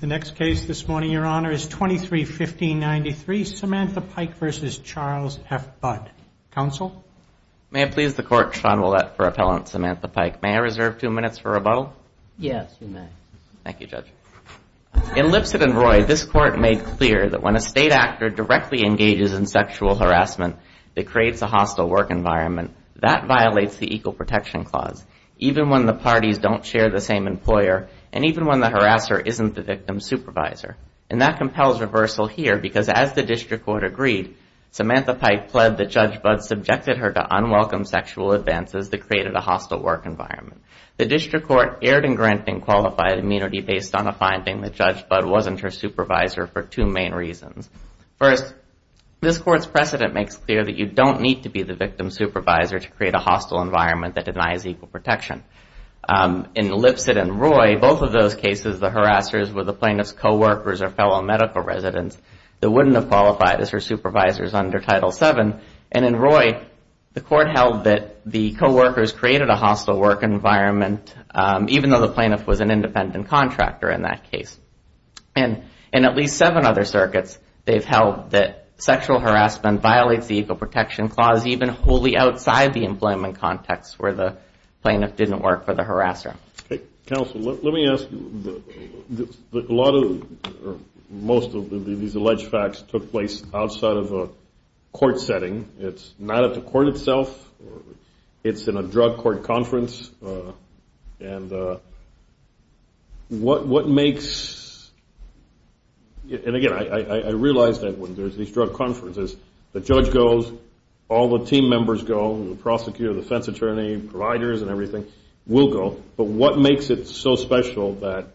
The next case this morning, Your Honor, is 23-1593, Samantha Pike versus Charles F. Budd. Counsel? May it please the Court, Sean Ouellette for Appellant Samantha Pike. May I reserve two minutes for rebuttal? Yes, you may. Thank you, Judge. In Lipset and Roy, this Court made clear that when a state actor directly engages in sexual harassment, it creates a hostile work environment. That violates the Equal Protection Clause. Even when the parties don't share the same employer, and even when the harasser isn't the victim's supervisor. And that compels reversal here, because as the district court agreed, Samantha Pike pled that Judge Budd subjected her to unwelcome sexual advances that created a hostile work environment. The district court erred in granting qualified immunity based on a finding that Judge Budd wasn't her supervisor for two main reasons. First, this Court's precedent makes clear that you don't need to be the victim's supervisor to create a hostile environment that denies equal protection. In Lipset and Roy, both of those cases, the harassers were the plaintiff's co-workers or fellow medical residents that wouldn't have qualified as her supervisors under Title VII. And in Roy, the Court held that the co-workers created a hostile work environment, even though the plaintiff was an independent contractor in that case. And in at least seven other circuits, they've held that sexual harassment violates the Equal Protection Clause, even wholly outside the employment context, where the plaintiff didn't work for the harasser. Counsel, let me ask you, most of these alleged facts took place outside of a court setting. It's not at the court itself. It's in a drug court conference. And what makes, and again, I realize that when there's these drug conferences, the judge goes, all the team members go, the prosecutor, defense attorney, providers, and everything will go. But what makes it so special that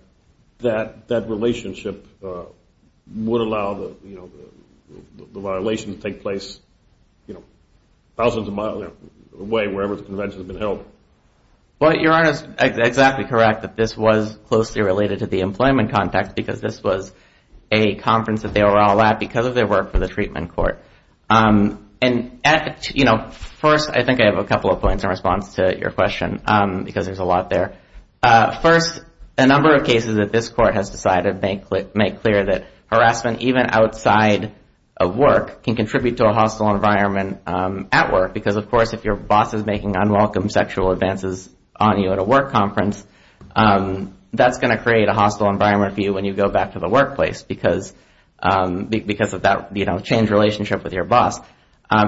that relationship would allow the violation to take place thousands of miles away, wherever the convention has been held? Well, your Honor is exactly correct that this was closely related to the employment context, because this was a conference that they were all at because of their work for the treatment court. And first, I think I have a couple of points in response to your question, because there's a lot there. First, a number of cases that this court has decided make clear that harassment, even outside of work, can contribute to a hostile environment at work. Because of course, if your boss is making unwelcome sexual advances on you at a work conference, that's going to create a hostile environment for you when you go back to the workplace, because of that changed relationship with your boss.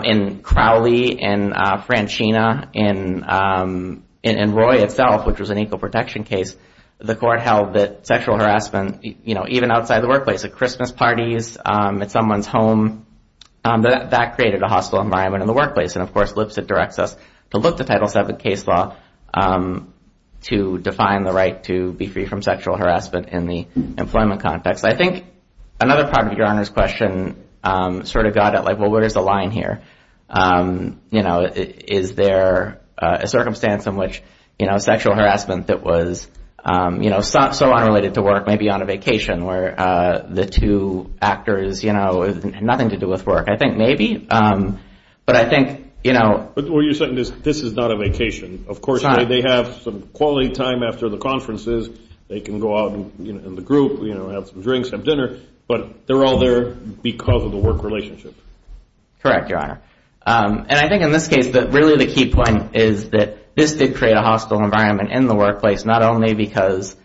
In Crowley, in Francina, in Roy itself, which was an equal protection case, the court held that sexual harassment, even outside the workplace, at Christmas parties, at someone's home, that created a hostile environment in the workplace. And of course, Lipset directs us to look to Title VII case law to define the right to be free from sexual harassment in the employment context. I think another part of your Honor's question sort of got at, well, where's the line here? Is there a circumstance in which sexual harassment that was so unrelated to work may be on a vacation, where the two actors had nothing to do with work? I think maybe. But I think, you know. But what you're saying is, this is not a vacation. Of course, they have some quality time after the conferences. They can go out in the group, have some drinks, have dinner. But they're all there because of the work relationship. Correct, Your Honor. And I think, in this case, really the key point is that this did create a hostile environment in the workplace, not only because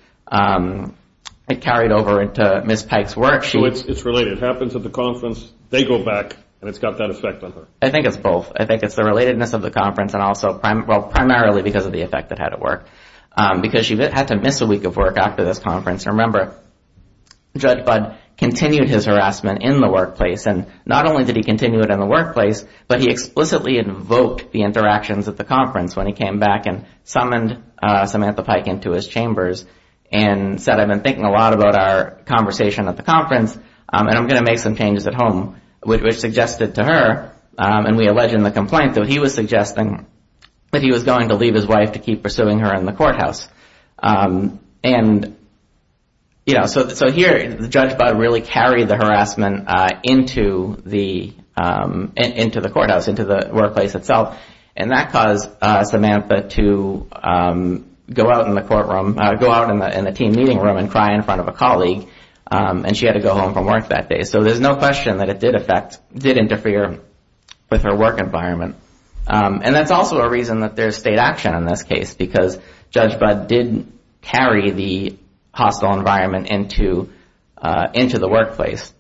it carried over into Ms. Pike's work. So it's related. It happens at the conference. They go back, and it's got that effect on her. I think it's both. I think it's the relatedness of the conference, and also primarily because of the effect it had at work. Because she had to miss a week of work after this conference. Remember, Judge Budd continued his harassment in the workplace. And not only did he continue it in the workplace, but he explicitly invoked the interactions at the conference when he came back and summoned Samantha Pike into his chambers and said, I've been thinking a lot about our conversation at the conference, and I'm going to make some changes at home, which suggested to her, and we allege in the complaint, that he was suggesting that he was going to leave his wife to keep pursuing her in the courthouse. And so here, Judge Budd really carried the harassment into the courthouse, into the workplace itself. And that caused Samantha to go out in the team meeting room and cry in front of a colleague. And she had to go home from work that day. So there's no question that it did interfere with her work environment. And that's also a reason that there's no state action in this case, because Judge Budd didn't carry the hostile environment into the workplace.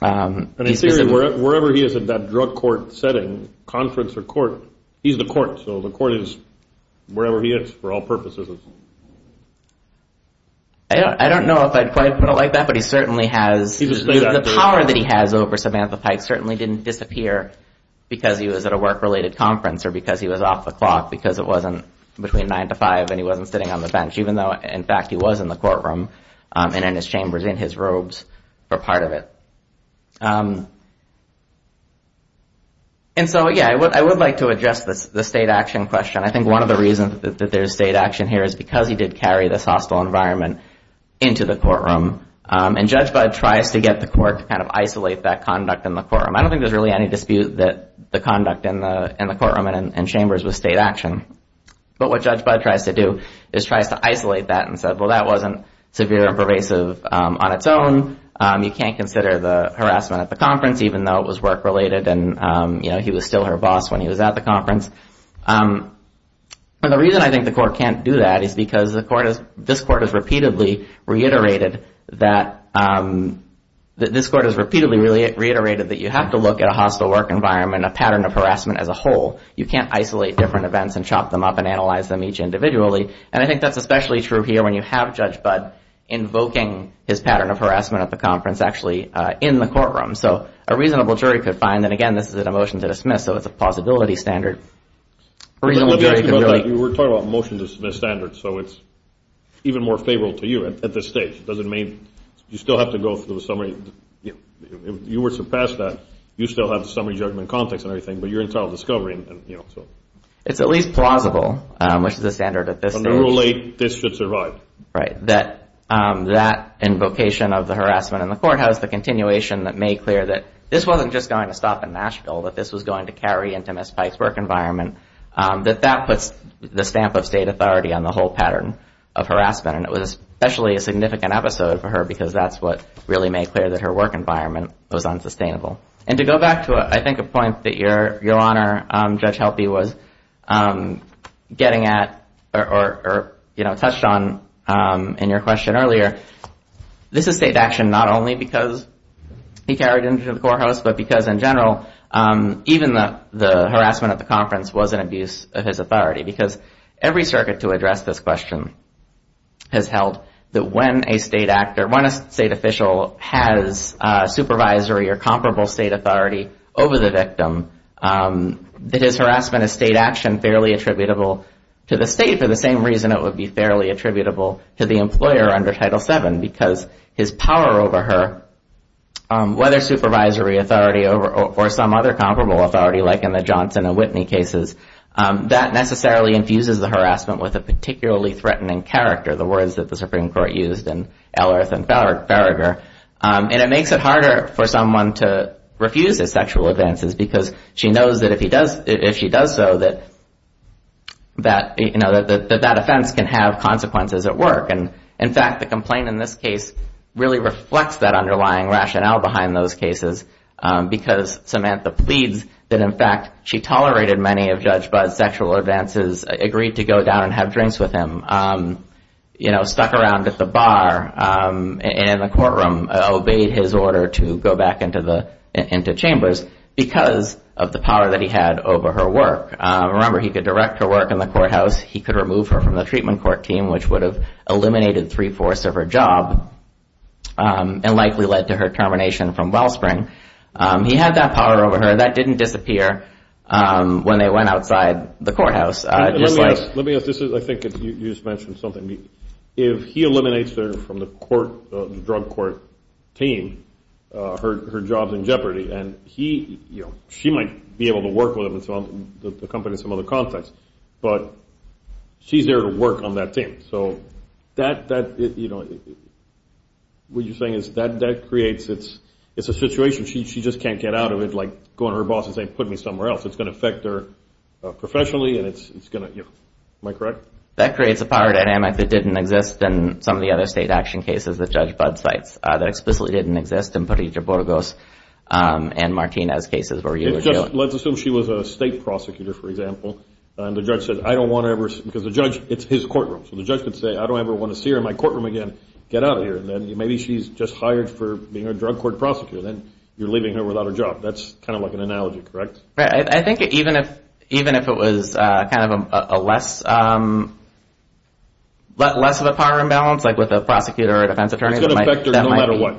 And in theory, wherever he is in that drug court setting, conference or court, he's the court. So the court is wherever he is for all purposes. I don't know if I'd quite put it like that, but he certainly has the power that he has over Samantha Pike certainly didn't disappear because he was at a work-related conference or because he was off the clock because it wasn't between 9 to 5 and he wasn't sitting on the bench, even though, in fact, he was in the courtroom and in his chambers in his robes for part of it. And so, yeah, I would like to address the state action question. I think one of the reasons that there's state action here is because he did carry this hostile environment into the courtroom. And Judge Budd tries to get the court to kind of isolate that conduct in the courtroom. I don't think there's really any dispute that the conduct in the courtroom and chambers was state action. But what Judge Budd tries to do is tries to isolate that and said, well, that wasn't severe and pervasive on its own. You can't consider the harassment at the conference, even though it was work-related and he was still her boss when he was at the conference. And the reason I think the court can't do that is because this court has repeatedly reiterated that you have to look at a hostile work environment, a pattern of harassment as a whole. You can't isolate different events and chop them up and analyze them each individually. And I think that's especially true here when you have Judge Budd invoking his pattern of harassment at the conference actually in the courtroom. So a reasonable jury could find that, again, this is a motion to dismiss. So it's a plausibility standard. A reasonable jury could really. You were talking about motion to dismiss standards. So it's even more favorable to you at this stage. Does it mean you still have to go through the summary? If you were to pass that, you still have the summary judgment context and everything, but you're entitled to discovery. It's at least plausible, which is the standard at this stage. Under Rule 8, this should survive. Right, that invocation of the harassment in the courthouse, the continuation that made clear that this wasn't just going to stop in Nashville, that this was going to carry into Ms. Pike's work environment, that that puts the stamp of state authority on the whole pattern of harassment. And it was especially a significant episode for her because that's what really made clear that her work environment was unsustainable. And to go back to, I think, a point that Your Honor, Judge Helpe, was getting at or touched on in your question earlier, this is state action not only because he carried it into the courthouse, but because, in general, even the harassment at the conference was an abuse of his authority. Because every circuit to address this question has held that when a state official has supervisory or comparable state authority over the victim, that his harassment is state action, fairly attributable to the state, for the same reason it would be fairly attributable to the employer under Title VII. Because his power over her, whether supervisory authority or some other comparable authority, like in the Johnson and Whitney cases, that necessarily infuses the harassment with a particularly threatening character. The words that the Supreme Court used in Ellerth and Farragher. And it makes it harder for someone to refuse his sexual advances because she knows that if she does so, that that offense can have consequences at work. And in fact, the complaint in this case really reflects that underlying rationale behind those cases because Samantha pleads that, in fact, she tolerated many of Judge Budd's sexual advances, agreed to go down and have drinks with him, stuck around at the bar in the courtroom, obeyed his order to go back into chambers because of the power that he had over her work. Remember, he could direct her work in the courthouse. He could remove her from the treatment court team, which would have eliminated three-fourths of her job and likely led to her termination from Wellspring. He had that power over her. That didn't disappear when they went outside the courthouse. Let me ask. I think you just mentioned something. If he eliminates her from the drug court team, her job's in jeopardy. And she might be able to work with the company in some other context. But she's there to work on that team. So what you're saying is that creates a situation. She just can't get out of it, like go to her boss and say, put me somewhere else. It's going to affect her professionally. And it's going to, am I correct? That creates a power dynamic that didn't exist in some of the other state action cases that Judge Budd cites, that explicitly didn't exist in Parita Burgos and Martina's cases where you were dealing. Let's assume she was a state prosecutor, for example. And the judge said, I don't want to ever, because the judge, it's his courtroom. So the judge could say, I don't ever want to see her in my courtroom again. Get out of here. And then maybe she's just hired for being a drug court prosecutor. Then you're leaving her without a job. That's kind of like an analogy, correct? Right. I think even if it was kind of a less of a power imbalance, like with a prosecutor or a defense attorney, that might be. It's going to affect her no matter what.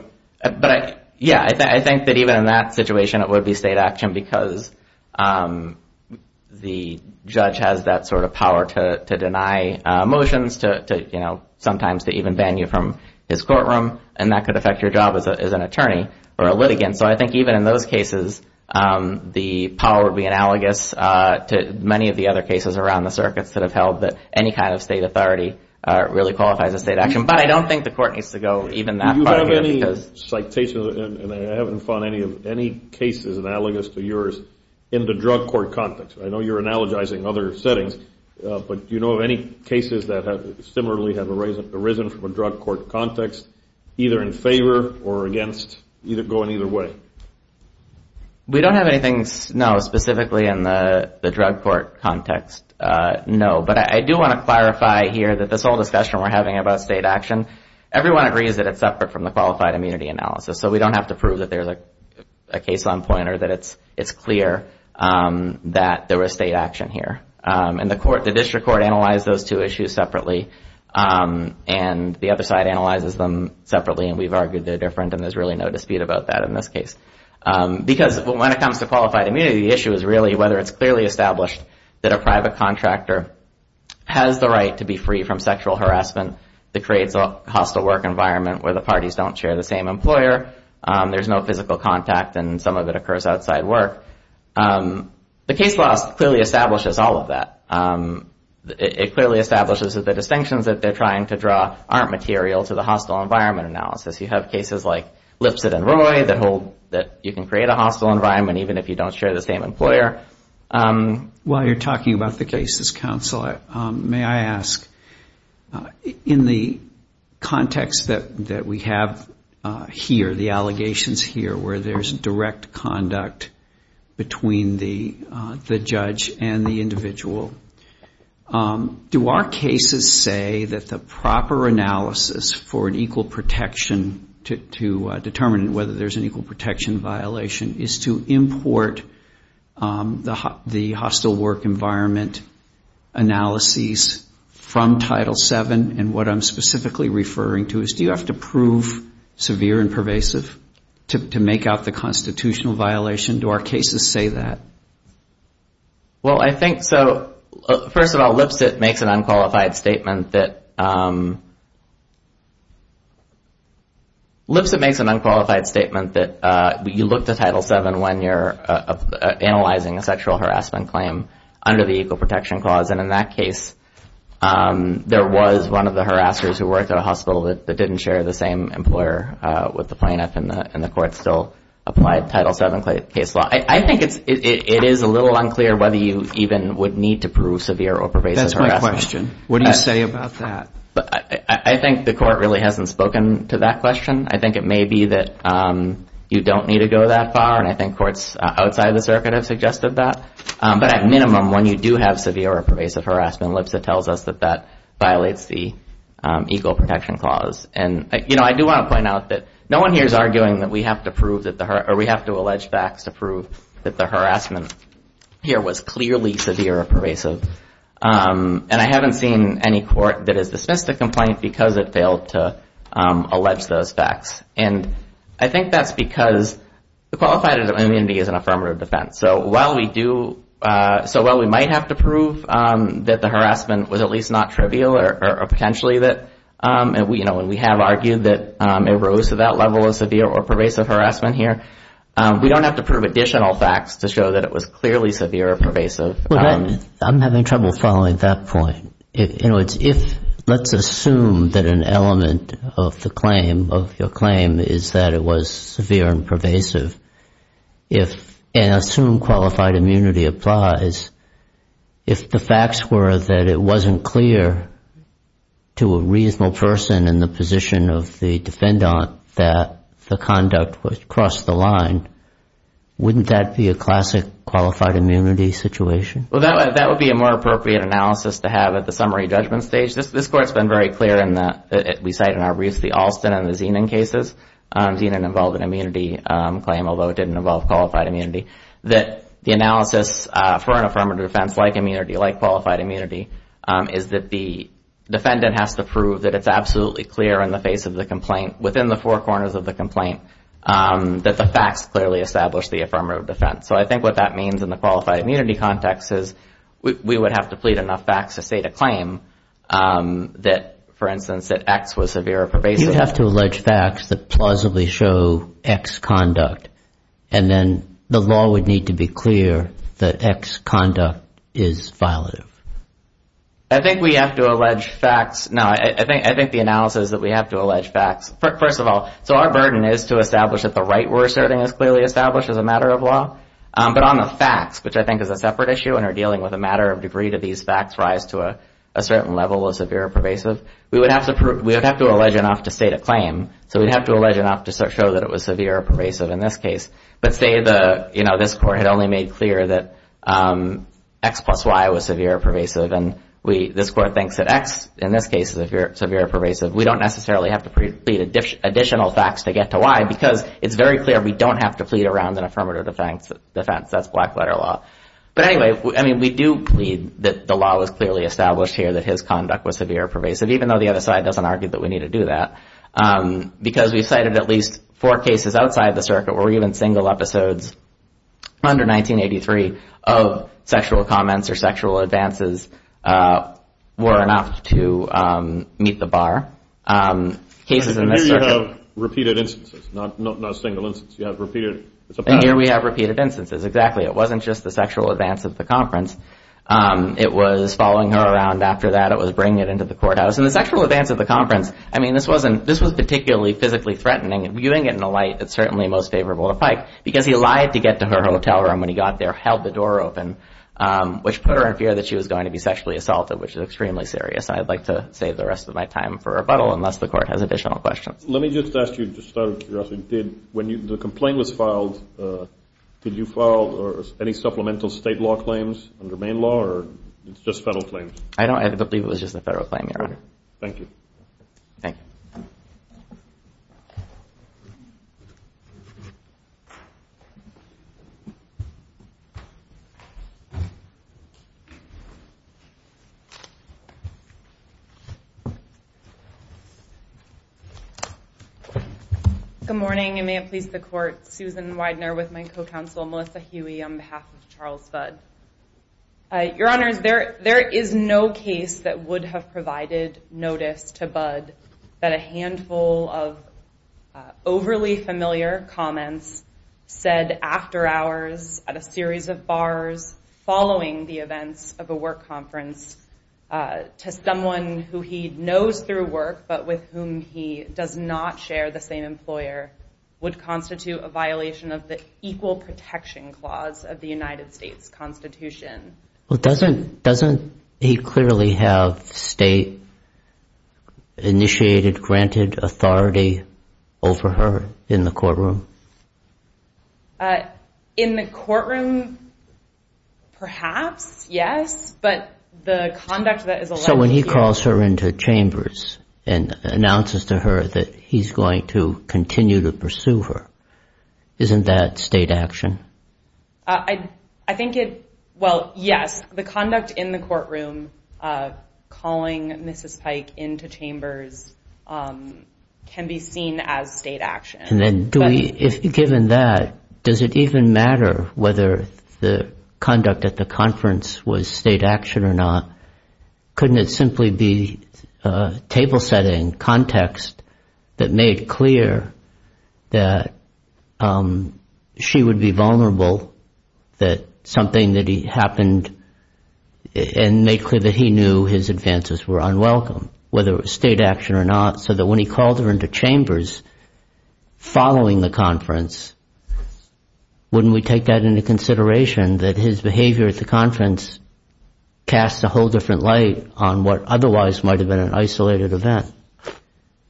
Yeah. I think that even in that situation, it would be state action because the judge has that sort of power to deny motions, sometimes to even ban you from his courtroom. And that could affect your job as an attorney or a litigant. So I think even in those cases, the power would be analogous to many of the other cases around the circuits that have held that any kind of state authority really qualifies as state action. But I don't think the court needs to go even that far. Do you have any citations, and I haven't found any cases analogous to yours, in the drug court context? I know you're analogizing other settings. But do you know of any cases that similarly have arisen from a drug court context, either in favor or against, going either way? We don't have anything, no, specifically in the drug court context, no. But I do want to clarify here that this whole discussion we're having about state action, everyone agrees that it's separate from the qualified immunity analysis. So we don't have to prove that there's a case on point or that it's clear that there was state action here. And the district court analyzed those two issues separately. And the other side analyzes them separately. And we've argued they're different. And there's really no dispute about that in this case. Because when it comes to qualified immunity, the issue is really whether it's clearly established that a private contractor has the right to be free from sexual harassment that creates a hostile work environment where the parties don't share the same employer. There's no physical contact. And some of it occurs outside work. The case law clearly establishes all of that. It clearly establishes that the distinctions that they're trying to draw aren't material to the hostile environment analysis. You have cases like Lipset and Roy that hold that you can create a hostile environment even if you don't share the same employer. While you're talking about the cases, counsel, may I ask, in the context that we have here, the allegations here, where there's direct conduct between the judge and the individual, do our cases say that the proper analysis for an equal protection to determine whether there's an equal protection violation is to import the hostile work environment analyses from Title VII? And what I'm specifically referring to is, do you have to prove severe and pervasive to make out the constitutional violation? Do our cases say that? Well, I think so. First of all, Lipset makes an unqualified statement that you look to Title VII when you're analyzing a sexual harassment claim under the equal protection clause. And in that case, there was one of the harassers who worked at a hospital that didn't share the same employer with the plaintiff, and the court still applied Title VII case law. I think it is a little unclear whether you even would need to prove severe or pervasive harassment. That's my question. What do you say about that? I think the court really hasn't spoken to that question. I think it may be that you don't need to go that far, and I think courts outside the circuit have suggested that. But at minimum, when you do have severe or pervasive harassment, Lipset tells us that that violates the equal protection clause. And I do want to point out that no one here is arguing that we have to prove that the harassment, or we have to allege facts to prove that the harassment here was clearly severe or pervasive. And I haven't seen any court that has dismissed the complaint because it failed to allege those facts. And I think that's because the qualified is an affirmative defense. So while we might have to prove that the harassment was at least not trivial, or potentially that we have argued that it arose to that level of severe or pervasive harassment here, we don't have to prove additional facts to show that it was clearly severe or pervasive. I'm having trouble following that point. Let's assume that an element of your claim is that it was severe and pervasive, and assume qualified immunity applies. If the facts were that it wasn't clear to a reasonable person in the position of the defendant that the conduct was across the line, wouldn't that be a classic qualified immunity situation? Well, that would be a more appropriate analysis to have at the summary judgment stage. This court's been very clear in that, we cite in our briefs, the Alston and the Zenon cases. Zenon involved an immunity claim, although it didn't involve qualified immunity. That the analysis for an affirmative defense like immunity, like qualified immunity, is that the defendant has to prove that it's absolutely clear in the face of the complaint, within the four corners of the complaint, that the facts clearly establish the affirmative defense. So I think what that means in the qualified immunity context is we would have to plead enough facts to state a claim that, for instance, that X was severe or pervasive. You'd have to allege facts that plausibly show X conduct, and then the law would need to be clear that X conduct is violative. I think we have to allege facts. No, I think the analysis is that we have to allege facts. First of all, so our burden is to establish that the right we're asserting is clearly established as a matter of law. But on the facts, which I think is a separate issue and are dealing with a matter of degree to these facts rise to a certain level of severe or pervasive, we would have to allege enough to state a claim. So we'd have to allege enough to show that it was severe or pervasive. But say this court had only made clear that X plus Y was severe or pervasive, and this court thinks that X, in this case, is severe or pervasive. We don't necessarily have to plead additional facts to get to Y because it's very clear we don't have to plead around an affirmative defense. That's black-letter law. But anyway, we do plead that the law was clearly established here that his conduct was severe or pervasive, even though the other side doesn't argue that we need to do that. Because we've cited at least four cases outside the circuit where even single episodes under 1983 of sexual comments or sexual advances were enough to meet the bar. Cases in this circuit. And here you have repeated instances, not single instances. You have repeated. It's a pattern. And here we have repeated instances. Exactly. It wasn't just the sexual advance at the conference. It was following her around after that. It was bringing it into the courthouse. And the sexual advance at the conference, I mean, this was particularly physically threatening. Viewing it in the light, it's certainly most favorable to Pike, because he lied to get to her hotel room when he got there, held the door open, which put her in fear that she was going to be sexually assaulted, which is extremely serious. I'd like to save the rest of my time for rebuttal, unless the court has additional questions. Let me just ask you, just out of curiosity, when the complaint was filed, did you file any supplemental state law claims under Maine law, or it's just federal claims? I believe it was just a federal claim, Your Honor. Thank you. Thank you. Thank you. Good morning, and may it please the court, Susan Widener with my co-counsel Melissa Huey on behalf of Charles Budd. Your Honors, there is no case that would have provided notice to Budd that a handful of overly familiar comments said after hours at a series of bars following the events of a work conference to someone who he knows through work, but with whom he does not share the same employer, would constitute a violation of the Equal Protection Clause of the United States Constitution. Well, doesn't he clearly have state-initiated, granted authority over her in the courtroom? In the courtroom, perhaps, yes. But the conduct that is allowed to be used. So when he calls her into chambers and announces to her that he's going to continue to pursue her, isn't that state action? I think it, well, yes. The conduct in the courtroom calling Mrs. Pike into chambers can be seen as state action. And then given that, does it even matter whether the conduct at the conference was state action or not? Couldn't it simply be a table setting context that made clear that she would be vulnerable, that something that happened and made clear that he knew his advances were unwelcome, whether it was state action or not, so that when he called her into chambers following the conference, wouldn't we take that into consideration, that his behavior at the conference cast a whole different light on what otherwise might have been an isolated event?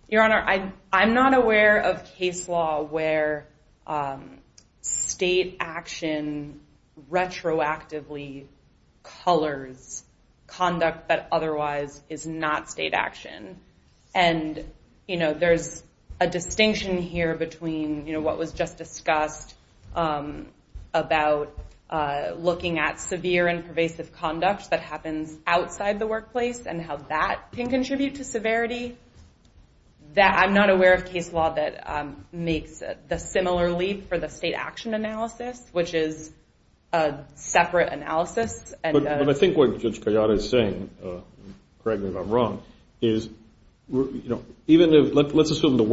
Your Honor, I'm not aware of case law where state action retroactively colors conduct that otherwise is not state action. And there's a distinction here between what was just discussed about looking at severe and pervasive conduct that happens outside the workplace and how that can contribute to severity. I'm not aware of case law that makes the similar leap for the state action analysis, which is a separate analysis. But I think what Judge Collada is saying, correct me if I'm wrong, is even if let's assume the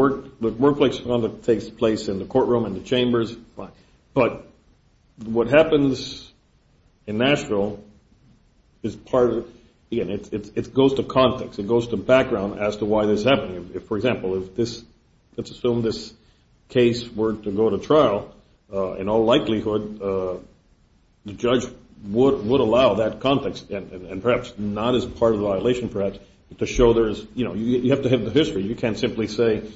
workplace conduct takes place in the courtroom and the chambers, but what happens in Nashville is part of it. Again, it goes to context. It goes to background as to why this is happening. For example, let's assume this case were to go to trial. In all likelihood, the judge would allow that context, and perhaps not as part of the violation, perhaps, to show there is, you have to have the history. You can't simply say,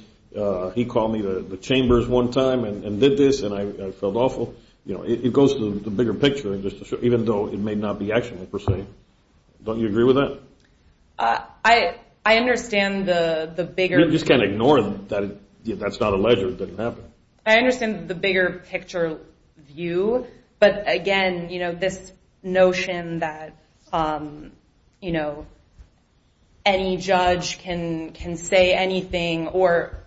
he called me to the chambers one time and did this, and I felt awful. It goes to the bigger picture, even though it may not be action, per se. Don't you agree with that? I understand the bigger picture. You just can't ignore that. That's not a ledger. It doesn't happen. I understand the bigger picture view. But again, this notion that any judge can say anything or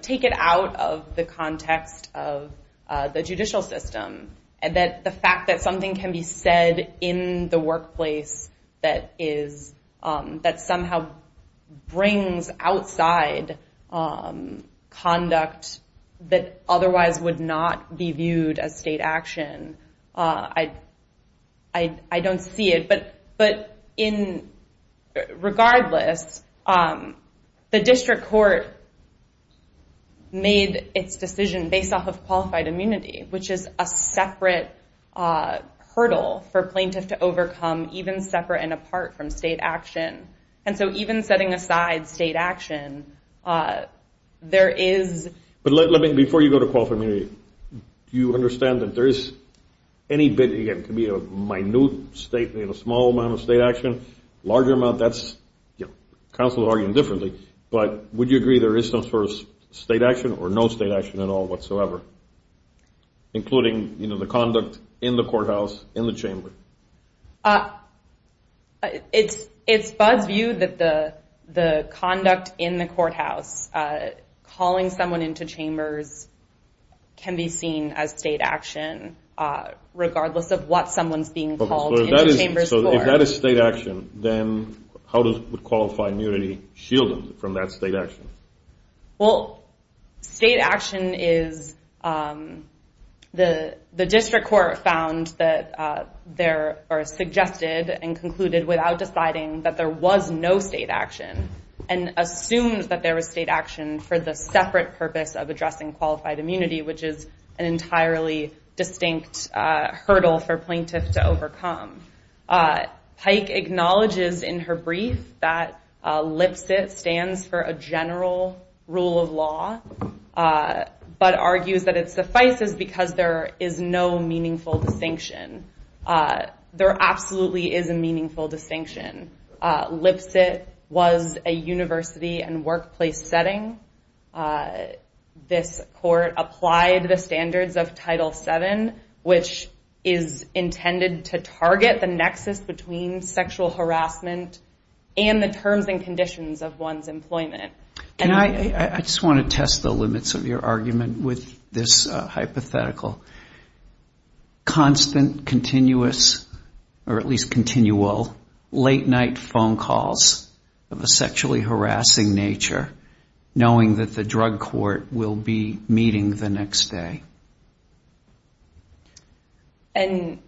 take it out of the context of the judicial system, and that the fact that something can be said in the workplace that somehow brings outside conduct that otherwise would not be viewed as state action, I don't see it. But regardless, the district court made its decision based off of qualified immunity, which is a separate hurdle for plaintiff to overcome, even separate and apart from state action. And so even setting aside state action, there is. But let me, before you go to qualified immunity, do you understand that there is any bit, it can be a minute statement, a small amount of state action, larger amount, that's, counsel will argue differently. But would you agree there is some sort of state action or no state action at all whatsoever, including the conduct in the courthouse, in the chamber? It's Bud's view that the conduct in the courthouse, calling someone into chambers, can be seen as state action, regardless of what someone's being called into chambers for. So if that is state action, then how does qualified immunity shield it from that state action? Well, state action is, the district court found that there, or suggested and concluded without deciding that there was no state action, and assumed that there was state action for the separate purpose of addressing qualified immunity, which is an entirely distinct hurdle for plaintiff to overcome. Pike acknowledges in her brief that LPSIT stands for a general rule of law, but argues that it suffices because there is no meaningful distinction. There absolutely is a meaningful distinction. LPSIT was a university and workplace setting. This court applied the standards of Title VII, which is intended to target the nexus between sexual harassment and the terms and conditions of one's employment. I just want to test the limits of your argument with this hypothetical. Constant, continuous, or at least continual, late night phone calls of a sexually harassing nature, knowing that the drug court will be meeting the next day. And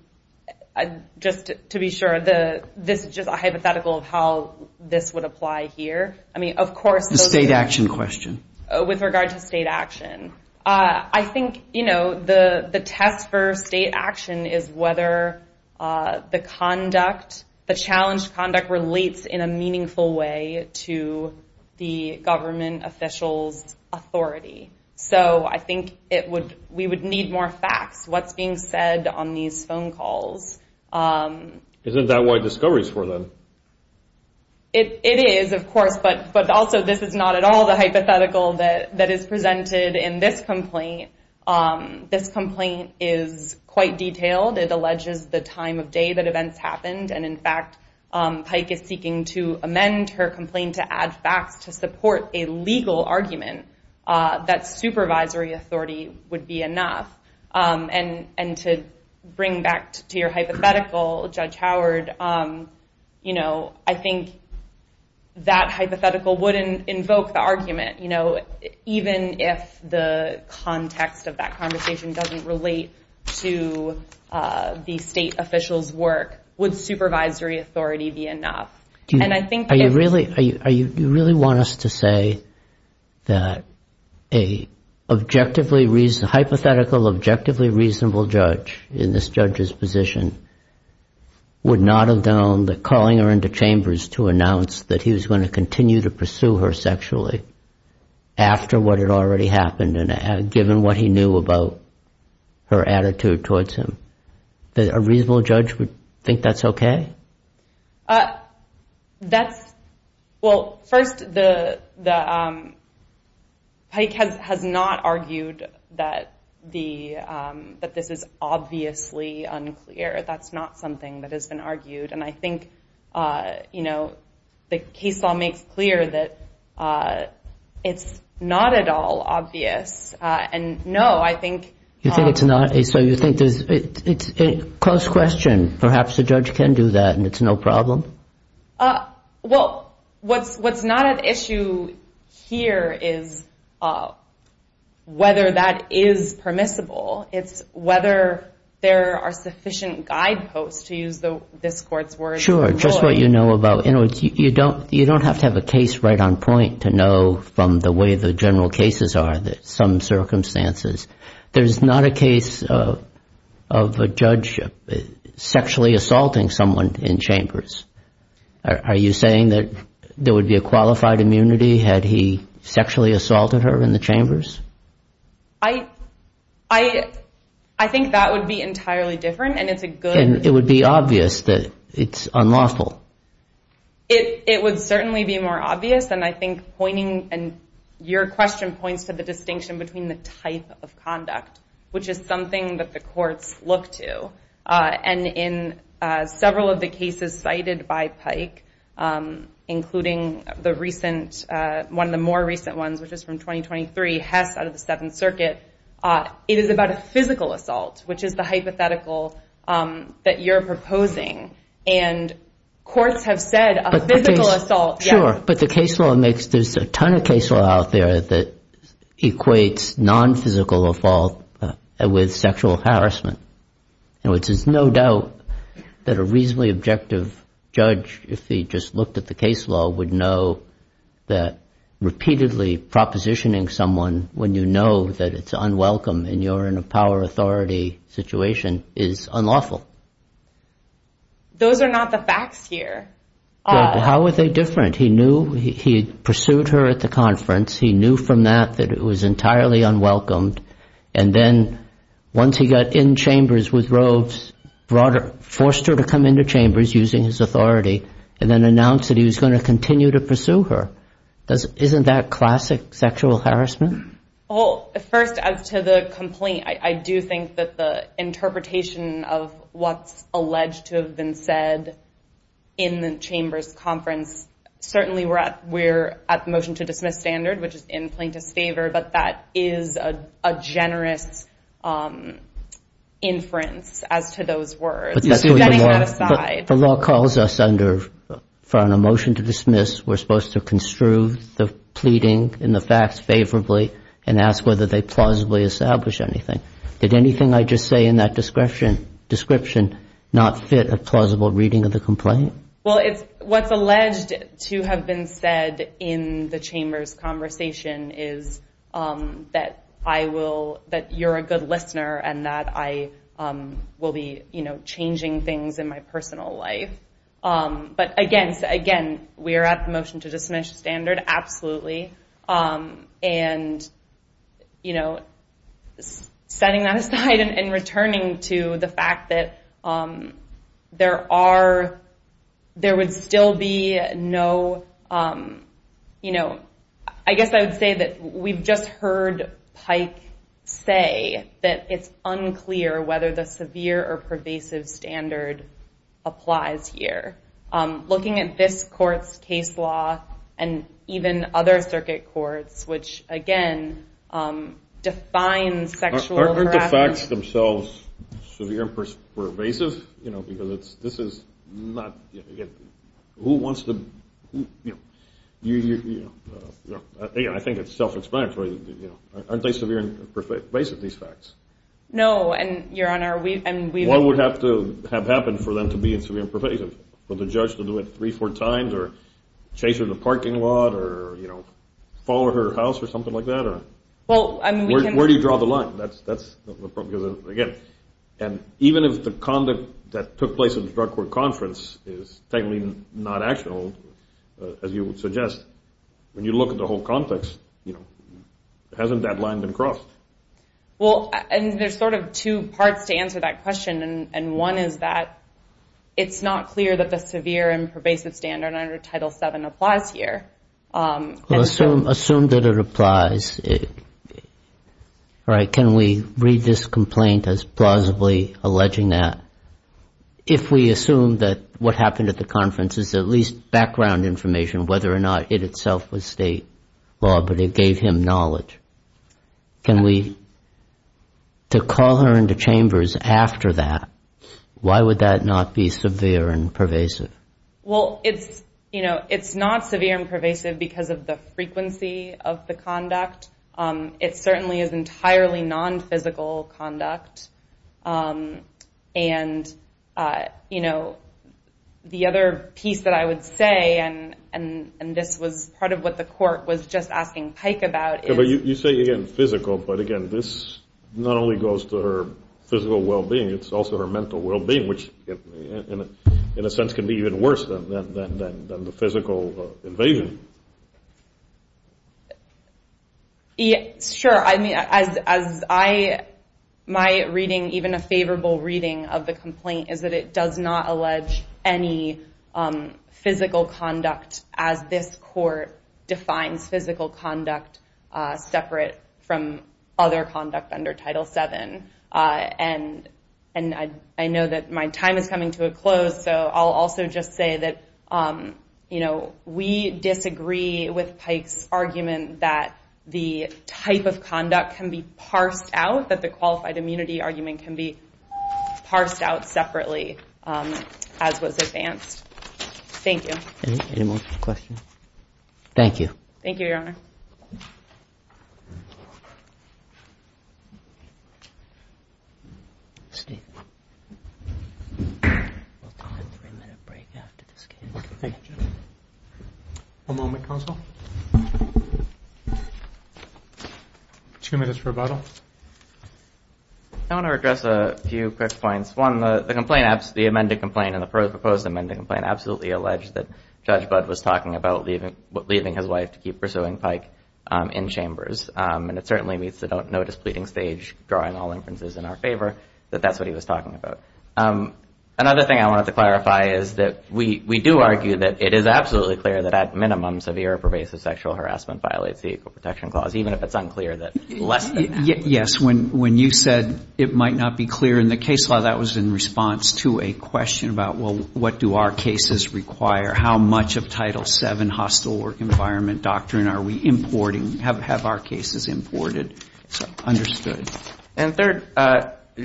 just to be sure, this is just a hypothetical of how this would apply here. I mean, of course, the state action question. With regard to state action. I think the test for state action is whether the conduct, the challenged conduct, relates in a meaningful way to the government official's authority. So I think we would need more facts, what's being said on these phone calls. Isn't that why Discovery's for them? It is, of course, but also this is not at all the hypothetical that is presented in this complaint. This complaint is quite detailed. It alleges the time of day that events happened. And in fact, Pike is seeking to amend her complaint to add facts to support a legal argument that supervisory authority would be enough. And to bring back to your hypothetical, Judge Howard, I think that hypothetical wouldn't invoke the argument. Even if the context of that conversation doesn't relate to the state official's work, would supervisory authority be enough? Do you really want us to say that a hypothetical objectively reasonable judge in this judge's position would not have known that calling her into chambers to announce that he was going to continue to pursue her sexually after what had already happened, and given what he knew about her attitude towards him, that a reasonable judge would think that's OK? That's, well, first, Pike has not argued that this is obviously unclear. That's not something that has been argued. And I think the case law makes clear that it's not at all obvious. And no, I think. You think it's not? So you think it's a close question. Perhaps the judge can do that, and it's no problem? Well, what's not at issue here is whether that is permissible. It's whether there are sufficient guideposts, to use this court's words, for Lloyd. Sure, just what you know about. In other words, you don't have to have a case right on point to know from the way the general cases are that some circumstances. There's not a case of a judge sexually assaulting someone in chambers. Are you saying that there would be a qualified immunity had he sexually assaulted her in the chambers? I think that would be entirely different, and it's a good. It would be obvious that it's unlawful. It would certainly be more obvious, and I think pointing, and your question points to the distinction between the type of conduct, which is something that the courts look to. And in several of the cases cited by Pike, including the recent, one of the more recent ones, which is from 2023, Hess out of the Seventh Circuit, it is about a physical assault, which is the hypothetical that you're proposing. And courts have said a physical assault, yes. Sure. But the case law makes, there's a ton of case law out there that equates non-physical assault with sexual harassment, which is no doubt that a reasonably objective judge, if he just looked at the case law, would know that repeatedly propositioning someone when you know that it's unwelcome and you're in a power authority situation is unlawful. Those are not the facts here. How are they different? He pursued her at the conference. He knew from that that it was entirely unwelcomed. And then once he got in chambers with Roves, forced her to come into chambers using his authority, and then announced that he was going to continue to pursue her. Isn't that classic sexual harassment? Well, first, as to the complaint, I do think that the interpretation of what's alleged to have been said in the chambers conference certainly we're at the motion to dismiss standard, which is in plaintiff's favor. But that is a generous inference as to those words. But that's the way the law calls us under, for a motion to dismiss, we're supposed to construe the pleading and the facts favorably and ask whether they plausibly establish anything. Did anything I just say in that description not fit a plausible reading of the complaint? Well, what's alleged to have been said in the chambers conversation is that you're a good listener and that I will be changing things in my personal life. But again, we are at the motion to dismiss standard, And setting that aside and returning to the fact that there would still be no, I guess I would say that we've just heard Pike say that it's unclear whether the severe or pervasive standard applies here. Looking at this court's case law and even other circuit courts, which again, define sexual harassment. Aren't the facts themselves severe and pervasive? Because this is not, who wants to, I think it's self-explanatory. Aren't they severe and pervasive, these facts? No, and Your Honor, we've. What would have to have happened for them to be in severe and pervasive? For the judge to do it three, four times, or chase her to the parking lot, or follow her house, or something like that? Well, I mean, we can. Where do you draw the line? Because again, even if the conduct that took place at the Drug Court Conference is technically not actual, as you would suggest, when you look at the whole context, hasn't that line been crossed? Well, and there's sort of two parts to answer that question. And one is that it's not clear that the severe and pervasive standard under Title VII applies here. Assume that it applies. All right, can we read this complaint as plausibly alleging that? If we assume that what happened at the conference is at least background information, whether or not it itself was state law, but it gave him knowledge, can we, to call her into chambers after that, why would that not be severe and pervasive? Well, it's not severe and pervasive because of the frequency of the conduct. It certainly is entirely non-physical conduct. And the other piece that I would say, and this was part of what the court was just asking Pike about is- You say, again, physical. But again, this not only goes to her physical well-being, it's also her mental well-being, which in a sense can be even worse than the physical invasion. Sure, my reading, even a favorable reading of the complaint, is that it does not allege any physical conduct as this court defines physical conduct separate from other conduct under Title VII. And I know that my time is coming to a close, so I'll also just say that we disagree with Pike's argument that the type of conduct can be parsed out, that the qualified immunity argument can be parsed out separately, as was advanced. Thank you. Any more questions? Thank you. Thank you, Your Honor. We'll have a three-minute break after this case. OK, thank you, Judge. One moment, counsel. Two minutes for rebuttal. I want to address a few quick points. One, the amended complaint and the proposed amended complaint absolutely alleged that Judge Budd was talking about leaving his wife to keep pursuing Pike in chambers. And it certainly meets the don't notice pleading stage, drawing all inferences in our favor, that that's what he was talking about. Another thing I wanted to clarify is that we do argue that it is absolutely clear that at minimum, severe or pervasive sexual harassment violates the Equal Protection Clause, even if it's unclear that less than that. Yes, when you said it might not be clear in the case law, that was in response to a question about, well, what do our cases require? How much of Title VII hostile work environment doctrine are we importing? Have our cases imported? Understood. And third,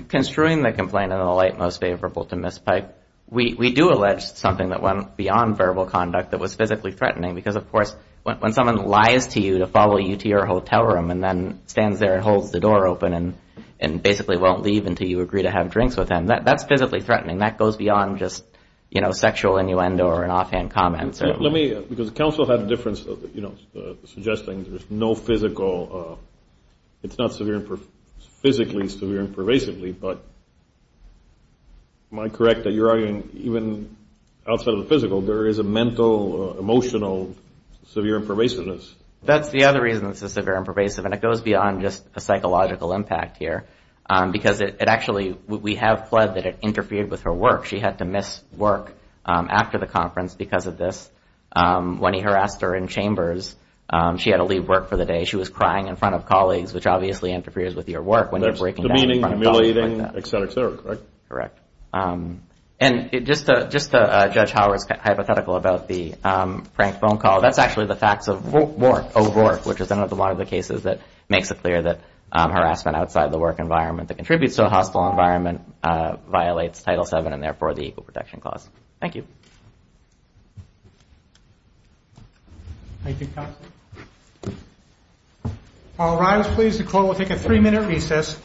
construing the complaint in the light most favorable to Ms. Pike, we do allege something that went beyond verbal conduct that was physically threatening. Because of course, when someone lies to you to follow you to your hotel room and then stands there and holds the door open and basically won't leave until you agree to have drinks with them, that's physically threatening. That goes beyond just sexual innuendo or an offhand comment. Because counsel had a difference, suggesting there's no physical, it's not physically severe and pervasively, but am I correct that you're arguing even outside of the physical, there is a mental, emotional, severe and pervasiveness? That's the other reason it's a severe and pervasive, and it goes beyond just a psychological impact here. Because it actually, we have pled that it interfered with her work. She had to miss work after the conference because of this when he harassed her in chambers. She had to leave work for the day. She was crying in front of colleagues, which obviously interferes with your work when you're breaking down front doors like that. That's demeaning, humiliating, et cetera, et cetera, right? Correct. And just to Judge Howard's hypothetical about the prank phone call, that's actually the facts of WARC, O'WARC, which is another one of the cases that makes it clear that harassment outside of the work environment that contributes to a hostile environment violates Title VII and therefore the Equal Protection Clause. Thank you. Thank you, Counselor. All rise, please. The call will take a three-minute recess.